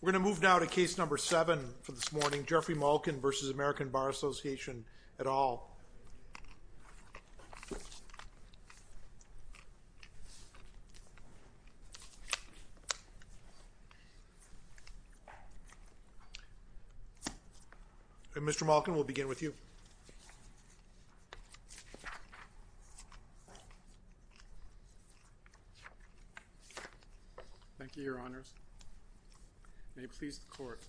We're going to move now to case number seven for this morning, Jeffrey Malkan v. American Bar Association et al. And Mr. Malkan, we'll begin with you. Thank you, Your Honors. May it please the Court,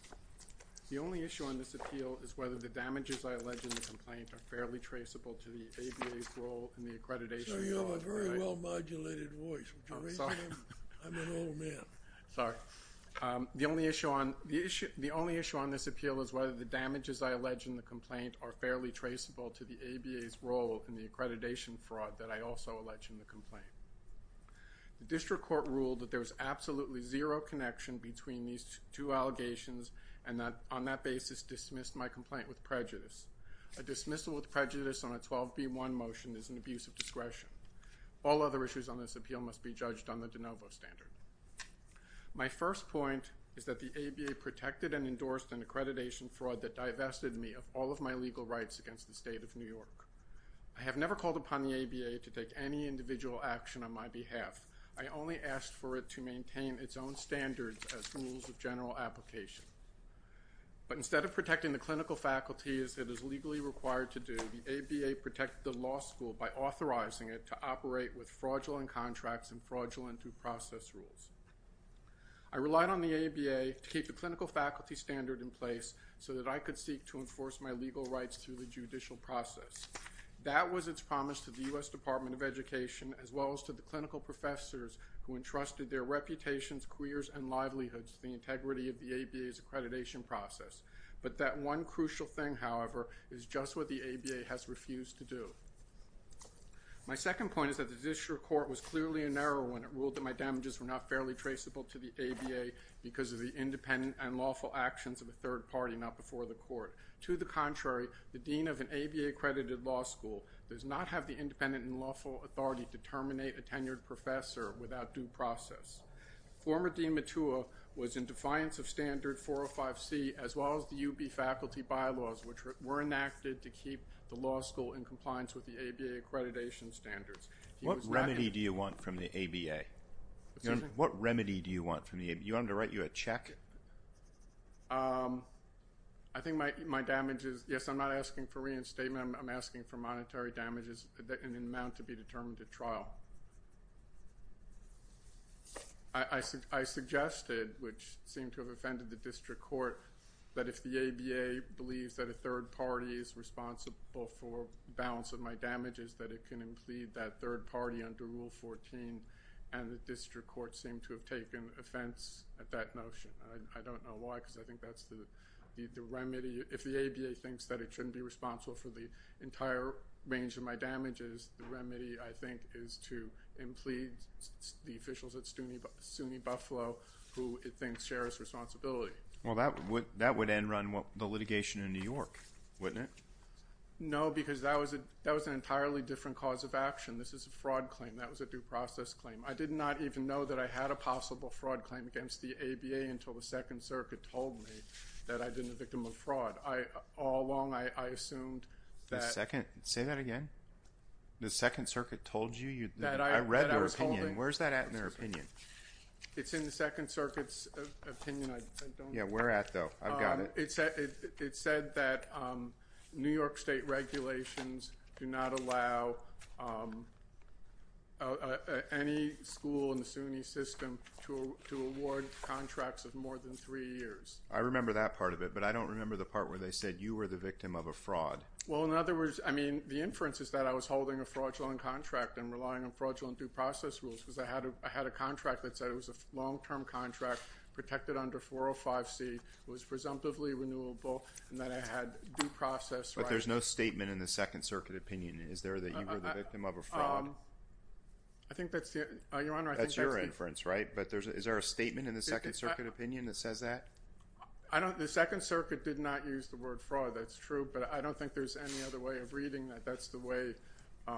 the only issue on this appeal is whether the damages I allege in the complaint are fairly traceable to the ABA's role in the accreditation fraud. The only issue on this appeal is whether the damages I allege in the complaint are fairly traceable to the ABA's role in the accreditation fraud that I also allege in the complaint. The district court ruled that there was absolutely zero connection between these two allegations on that basis dismissed my complaint with prejudice. A dismissal with prejudice on a 12B1 motion is an abuse of discretion. All other issues on this appeal must be judged on the de novo standard. My first point is that the ABA protected and endorsed an accreditation fraud that divested me of all of my legal rights against the state of New York. I have never called upon the ABA to take any individual action on my behalf. I only asked for it to maintain its own standards as rules of general application. But instead of protecting the clinical faculty as it is legally required to do, the ABA protected the law school by authorizing it to operate with fraudulent contracts and fraudulent due process rules. I relied on the ABA to keep the clinical faculty standard in place so that I could seek to enforce my legal rights through the judicial process. That was its promise to the U.S. Department of Education as well as to the clinical professors who entrusted their reputations, careers, and livelihoods to the integrity of the ABA's accreditation process. But that one crucial thing, however, is just what the ABA has refused to do. My second point is that the district court was clearly in error when it ruled that my damages were not fairly traceable to the ABA because of the independent and lawful actions of a third party not before the court. To the contrary, the dean of an ABA accredited law school does not have the independent and lawful authority to terminate a tenured professor without due process. Former Dean Matua was in defiance of standard 405C as well as the UB faculty bylaws which were enacted to keep the law school in compliance with the ABA accreditation standards. What remedy do you want from the ABA? What remedy do you want from the ABA? You want them to write you a check? I think my damage is, yes, I'm not asking for reinstatement, I'm asking for monetary damages in amount to be determined at trial. I suggested, which seemed to have offended the district court, that if the ABA believes that a third party is responsible for balance of my damages, that it can impede that third party under Rule 14 and the district court seemed to have taken offense at that notion. I don't know why because I think that's the remedy. If the ABA thinks that it shouldn't be responsible for the entire range of my damages, the remedy, I think, is to impede the officials at SUNY Buffalo who it thinks share its responsibility. That would end run the litigation in New York, wouldn't it? No because that was an entirely different cause of action. This is a fraud claim. That was a due process claim. I did not even know that I had a possible fraud claim against the ABA until the Second Circuit told me that I'd been a victim of fraud. All along, I assumed that- Say that again? The Second Circuit told you? I read their opinion. Where's that at in their opinion? It's in the Second Circuit's opinion. Where at though? I've got it. It said that New York state regulations do not allow any school in the SUNY system to award contracts of more than three years. I remember that part of it, but I don't remember the part where they said you were the victim of a fraud. Well, in other words, the inference is that I was holding a fraudulent contract and relying on fraudulent due process rules because I had a contract that said it was a long-term contract, protected under 405C, it was presumptively renewable, and that I had due process rights. But there's no statement in the Second Circuit opinion. Is there that you were the victim of a fraud? I think that's the- Your Honor, I think that's the- That's your inference, right? But is there a statement in the Second Circuit opinion that says that? The Second Circuit did not use the word fraud. That's true, but I don't think there's any other way of reading that. That's the way- I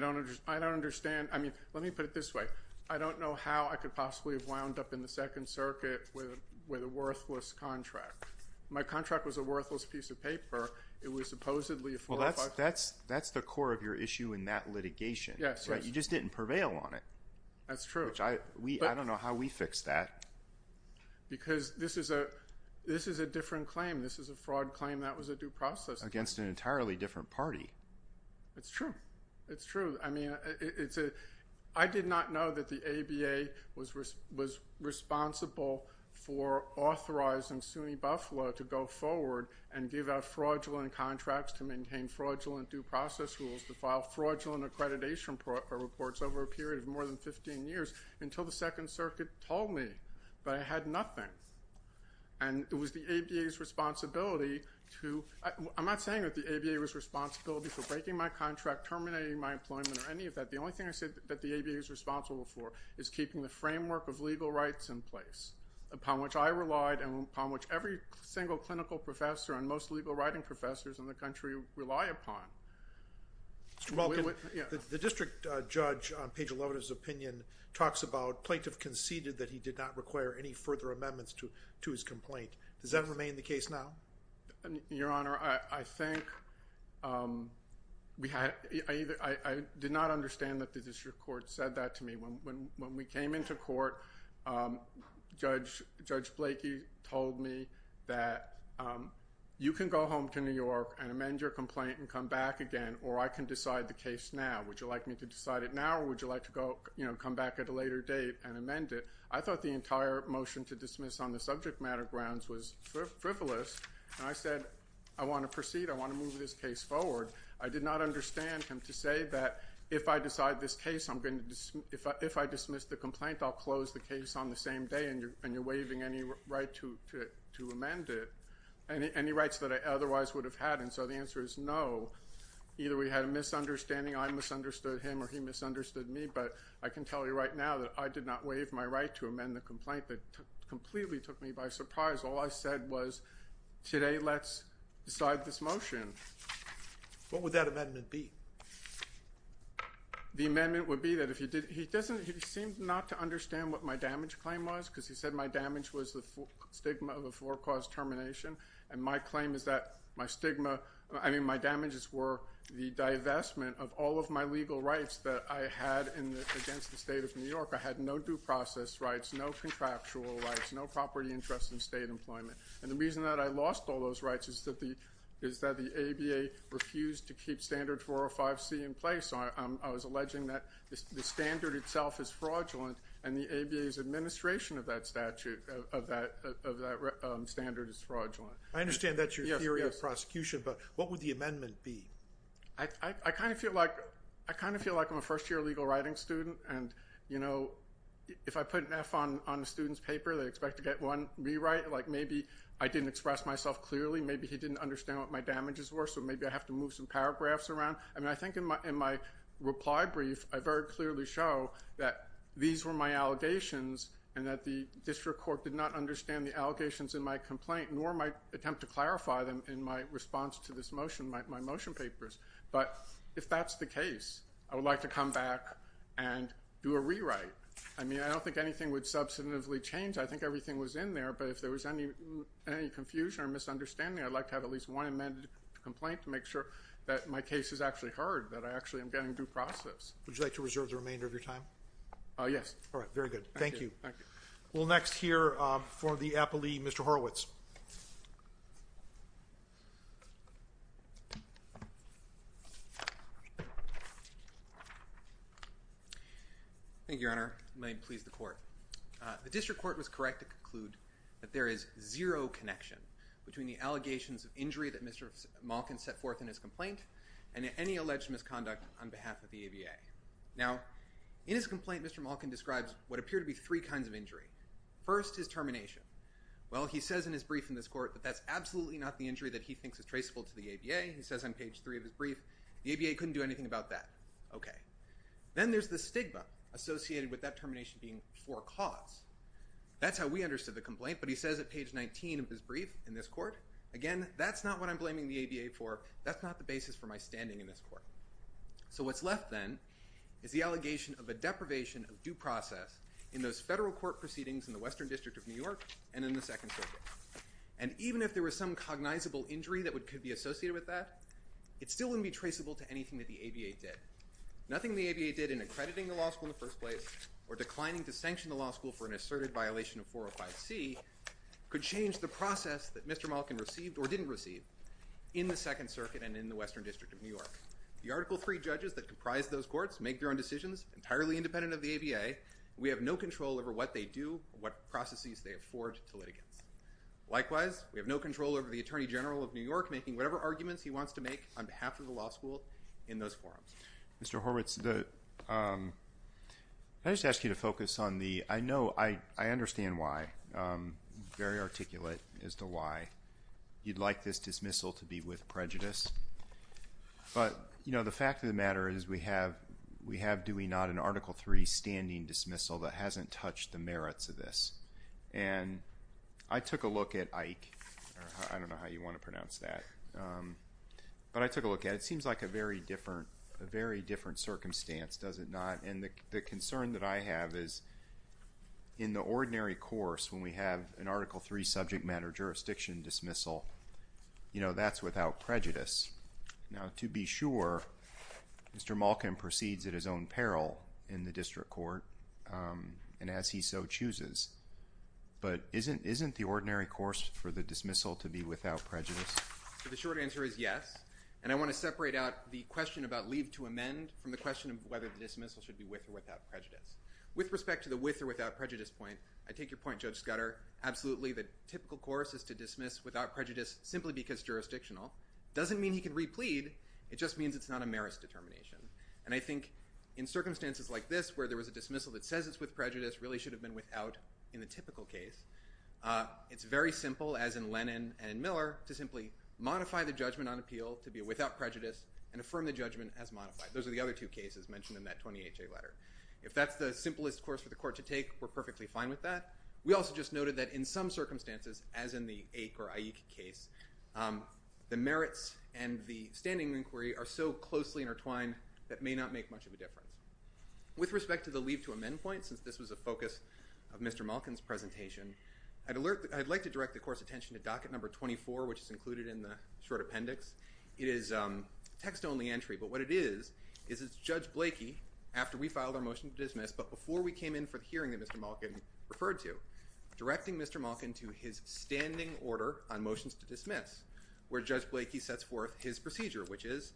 don't understand. I mean, let me put it this way. I don't know how I could possibly have wound up in the Second Circuit with a worthless contract. My contract was a worthless piece of paper. It was supposedly a 405C- Well, that's the core of your issue in that litigation. Yes, yes. Right? You just didn't prevail on it. That's true. Which I- I don't know how we fixed that. Because this is a different claim. This is a fraud claim that was a due process claim. Against an entirely different party. It's true. It's true. I mean, I did not know that the ABA was responsible for authorizing SUNY Buffalo to go forward and give out fraudulent contracts to maintain fraudulent due process rules, to file fraudulent accreditation reports over a period of more than 15 years, until the Second Circuit told me that I had nothing. And it was the ABA's responsibility to- I'm not saying that the ABA was responsible for terminating my contract, terminating my employment, or any of that. The only thing I said that the ABA is responsible for is keeping the framework of legal rights in place, upon which I relied, and upon which every single clinical professor and most legal writing professors in the country rely upon. Mr. Balkin, the district judge, on page 11 of his opinion, talks about plaintiff conceded that he did not require any further amendments to his complaint. Does that remain the case now? Your Honor, I think we had- I did not understand that the district court said that to me. When we came into court, Judge Blakey told me that you can go home to New York and amend your complaint and come back again, or I can decide the case now. Would you like me to decide it now, or would you like to come back at a later date and amend it? I thought the entire motion to dismiss on the subject matter grounds was frivolous, and I said, I want to proceed, I want to move this case forward. I did not understand him to say that if I decide this case, I'm going to- if I dismiss the complaint, I'll close the case on the same day, and you're waiving any right to amend it, any rights that I otherwise would have had, and so the answer is no. Either we had a misunderstanding, I misunderstood him, or he misunderstood me, but I can tell you right now that I did not waive my right to amend the complaint that completely took me by surprise. All I said was, today, let's decide this motion. What would that amendment be? The amendment would be that if he did- he doesn't- he seemed not to understand what my damage claim was, because he said my damage was the stigma of a four-cause termination, and my claim is that my stigma- I mean, my damages were the divestment of all of my legal rights that I had against the state of New York. I had no due process rights, no contractual rights, no property interest in state employment, and the reason that I lost all those rights is that the ABA refused to keep standard 405C in place. I was alleging that the standard itself is fraudulent, and the ABA's administration of that statute- of that standard is fraudulent. I understand that's your theory of prosecution, but what would the amendment be? I kind of feel like- I kind of feel like I'm a first-year legal writing student, and, you know, if I put an F on a student's paper, they expect to get one rewrite, like maybe I didn't express myself clearly. Maybe he didn't understand what my damages were, so maybe I have to move some paragraphs around. I mean, I think in my reply brief, I very clearly show that these were my allegations, and that the district court did not understand the allegations in my complaint, nor my attempt to clarify them in my response to this motion, my motion papers, but if that's the case, I would like to come back and do a rewrite. I mean, I don't think anything would substantively change. I think everything was in there, but if there was any confusion or misunderstanding, I'd like to have at least one amended complaint to make sure that my case is actually heard, that I actually am getting due process. Would you like to reserve the remainder of your time? Yes. All right. Very good. Thank you. Thank you. We'll next hear from the appellee, Mr. Horowitz. Thank you, Your Honor. May it please the court. The district court was correct to conclude that there is zero connection between the allegations of injury that Mr. Malkin set forth in his complaint and any alleged misconduct on behalf of the ABA. Now, in his complaint, Mr. Malkin describes what appear to be three kinds of injury. First is termination. Well, he says in his brief in this court that that's absolutely not the injury that he thinks is traceable to the ABA. He says on page three of his brief, the ABA couldn't do anything about that. Okay. Then there's the stigma associated with that termination being for cause. That's how we understood the complaint, but he says at page 19 of his brief in this court, again, that's not what I'm blaming the ABA for. That's not the basis for my standing in this court. So what's left then is the allegation of a deprivation of due process in those federal court proceedings in the Western District of New York and in the Second Circuit. And even if there was some cognizable injury that could be associated with that, it still wouldn't be traceable to anything that the ABA did. Nothing the ABA did in accrediting the law school in the first place or declining to sanction the law school for an asserted violation of 405C could change the process that Mr. Malkin received or didn't receive in the Second Circuit and in the Western District of New York. The Article III judges that comprise those courts make their own decisions entirely independent of the ABA. We have no control over what they do or what processes they afford to litigants. Likewise, we have no control over the Attorney General of New York making whatever arguments he wants to make on behalf of the law school in those forums. Mr. Horwitz, I just ask you to focus on the, I know, I understand why, very articulate as to why you'd like this dismissal to be with prejudice. But, you know, the fact of the matter is we have, do we not, an Article III standing dismissal that hasn't touched the merits of this. And I took a look at Ike, I don't know how you want to pronounce that, but I took a look at it. It seems like a very different circumstance, does it not? And the concern that I have is in the ordinary course when we have an Article III subject matter jurisdiction dismissal, you know, that's without prejudice. Now, to be sure, Mr. Malkin proceeds at his own peril in the district court and as he so chooses. But isn't the ordinary course for the dismissal to be without prejudice? So the short answer is yes. And I want to separate out the question about leave to amend from the question of whether the dismissal should be with or without prejudice. With respect to the with or without prejudice point, I take your point, Judge Scudder, absolutely the typical course is to dismiss without prejudice simply because jurisdictional. Doesn't mean he can replead, it just means it's not a merits determination. And I think in circumstances like this where there was a dismissal that says it's with prejudice really should have been without in the typical case. It's very simple, as in Lennon and Miller, to simply modify the judgment on appeal to be without prejudice and affirm the judgment as modified. Those are the other two cases mentioned in that 20HA letter. If that's the simplest course for the court to take, we're perfectly fine with that. We also just noted that in some circumstances, as in the Aik or Aik case, the merits and the standing inquiry are so closely intertwined that may not make much of a difference. With respect to the leave to amend point, since this was a focus of Mr. Malkin's presentation, I'd like to direct the court's attention to docket number 24, which is included in the short appendix. It is a text-only entry, but what it is is it's Judge Blakey, after we filed our motion to dismiss, but before we came in for the hearing that Mr. Malkin referred to, directing Mr. Malkin to his standing order on motions to dismiss, where Judge Blakey sets forth his procedure, which is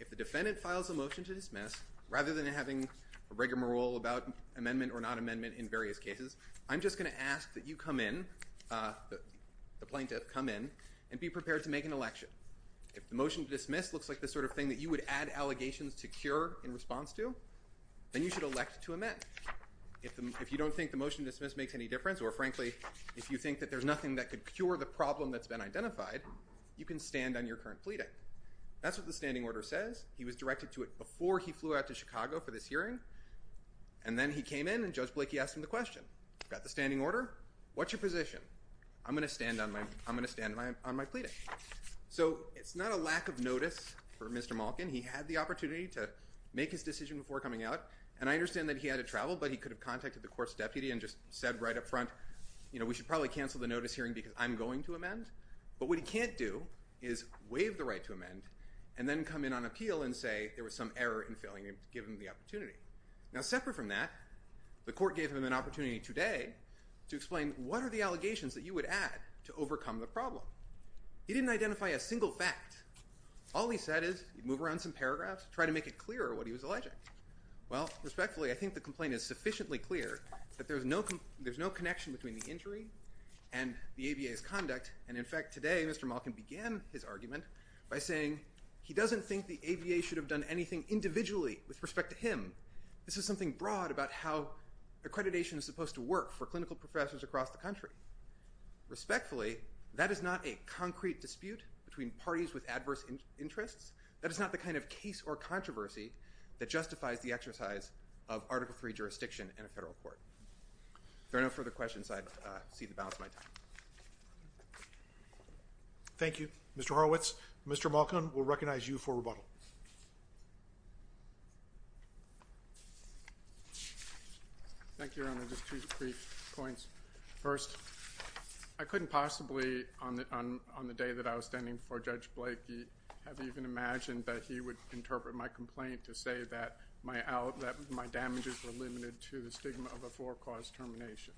if the defendant files a motion to dismiss, rather than having a rigmarole about amendment or not amendment in various cases, I'm just going to ask that you come in, the plaintiff, come in and be prepared to make an election. If the motion to dismiss looks like the sort of thing that you would add allegations to your response to, then you should elect to amend. If you don't think the motion to dismiss makes any difference or, frankly, if you think that there's nothing that could cure the problem that's been identified, you can stand on your current pleading. That's what the standing order says. He was directed to it before he flew out to Chicago for this hearing, and then he came in and Judge Blakey asked him the question, got the standing order, what's your position? I'm going to stand on my pleading. So it's not a lack of notice for Mr. Malkin. He had the opportunity to make his decision before coming out, and I understand that he had to travel, but he could have contacted the court's deputy and just said right up front, you know, we should probably cancel the notice hearing because I'm going to amend. But what he can't do is waive the right to amend and then come in on appeal and say there was some error in filling and give him the opportunity. Now separate from that, the court gave him an opportunity today to explain what are the allegations that you would add to overcome the problem. He didn't identify a single fact. All he said is move around some paragraphs, try to make it clearer what he was alleging. Well respectfully, I think the complaint is sufficiently clear that there's no connection between the injury and the ABA's conduct, and in fact today Mr. Malkin began his argument by saying he doesn't think the ABA should have done anything individually with respect to him. This is something broad about how accreditation is supposed to work for clinical professors across the country. Respectfully, that is not a concrete dispute between parties with adverse interests. That is not the kind of case or controversy that justifies the exercise of Article III jurisdiction in a federal court. If there are no further questions, I cede the balance of my time. Thank you. Mr. Horowitz, Mr. Malkin will recognize you for rebuttal. Thank you, Your Honor. Just two brief points. First, I couldn't possibly on the day that I was standing before Judge Blakey have even imagined that he would interpret my complaint to say that my damages were limited to the stigma of a four-cause termination.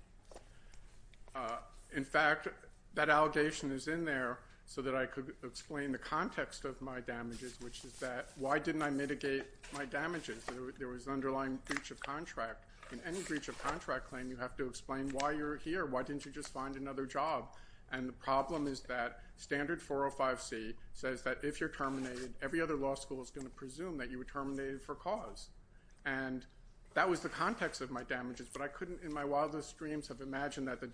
In fact, that allegation is in there so that I could explain the context of my damages, which is that why didn't I mitigate my damages? There was an underlying breach of contract. In any breach of contract claim, you have to explain why you're here. Why didn't you just find another job? And the problem is that Standard 405C says that if you're terminated, every other law school is going to presume that you were terminated for cause. And that was the context of my damages, but I couldn't in my wildest dreams have imagined that the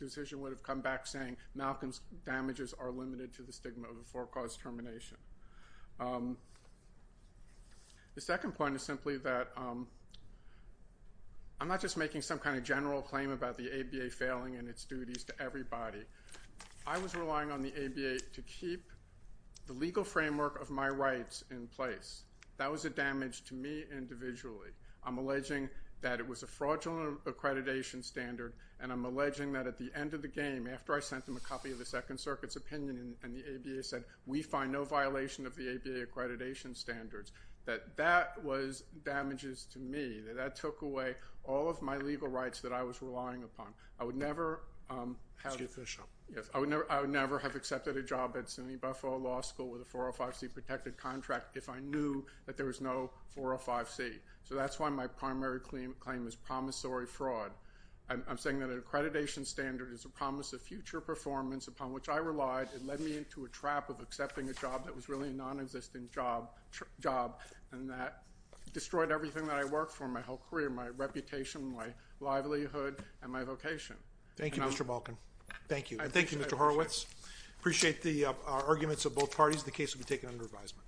decision would have come back saying Malkin's damages are limited to the stigma of a four-cause termination. The second point is simply that I'm not just making some kind of general claim about the ABA failing in its duties to everybody. I was relying on the ABA to keep the legal framework of my rights in place. That was a damage to me individually. I'm alleging that it was a fraudulent accreditation standard, and I'm alleging that at the end of the game, after I sent them a copy of the Second Circuit's opinion and the ABA said, we find no violation of the ABA accreditation standards, that that was damages to me, that that took away all of my legal rights that I was relying upon. I would never have accepted a job at Sydney Buffalo Law School with a 405C protected contract if I knew that there was no 405C. So that's why my primary claim is promissory fraud. I'm saying that an accreditation standard is a promise of future performance upon which I relied. It led me into a trap of accepting a job that was really a non-existent job, and that destroyed everything that I worked for my whole career, my reputation, my livelihood, and my vocation. Thank you, Mr. Malkin. Thank you. Thank you, Mr. Horowitz. I appreciate the arguments of both parties. The case will be taken under advisement.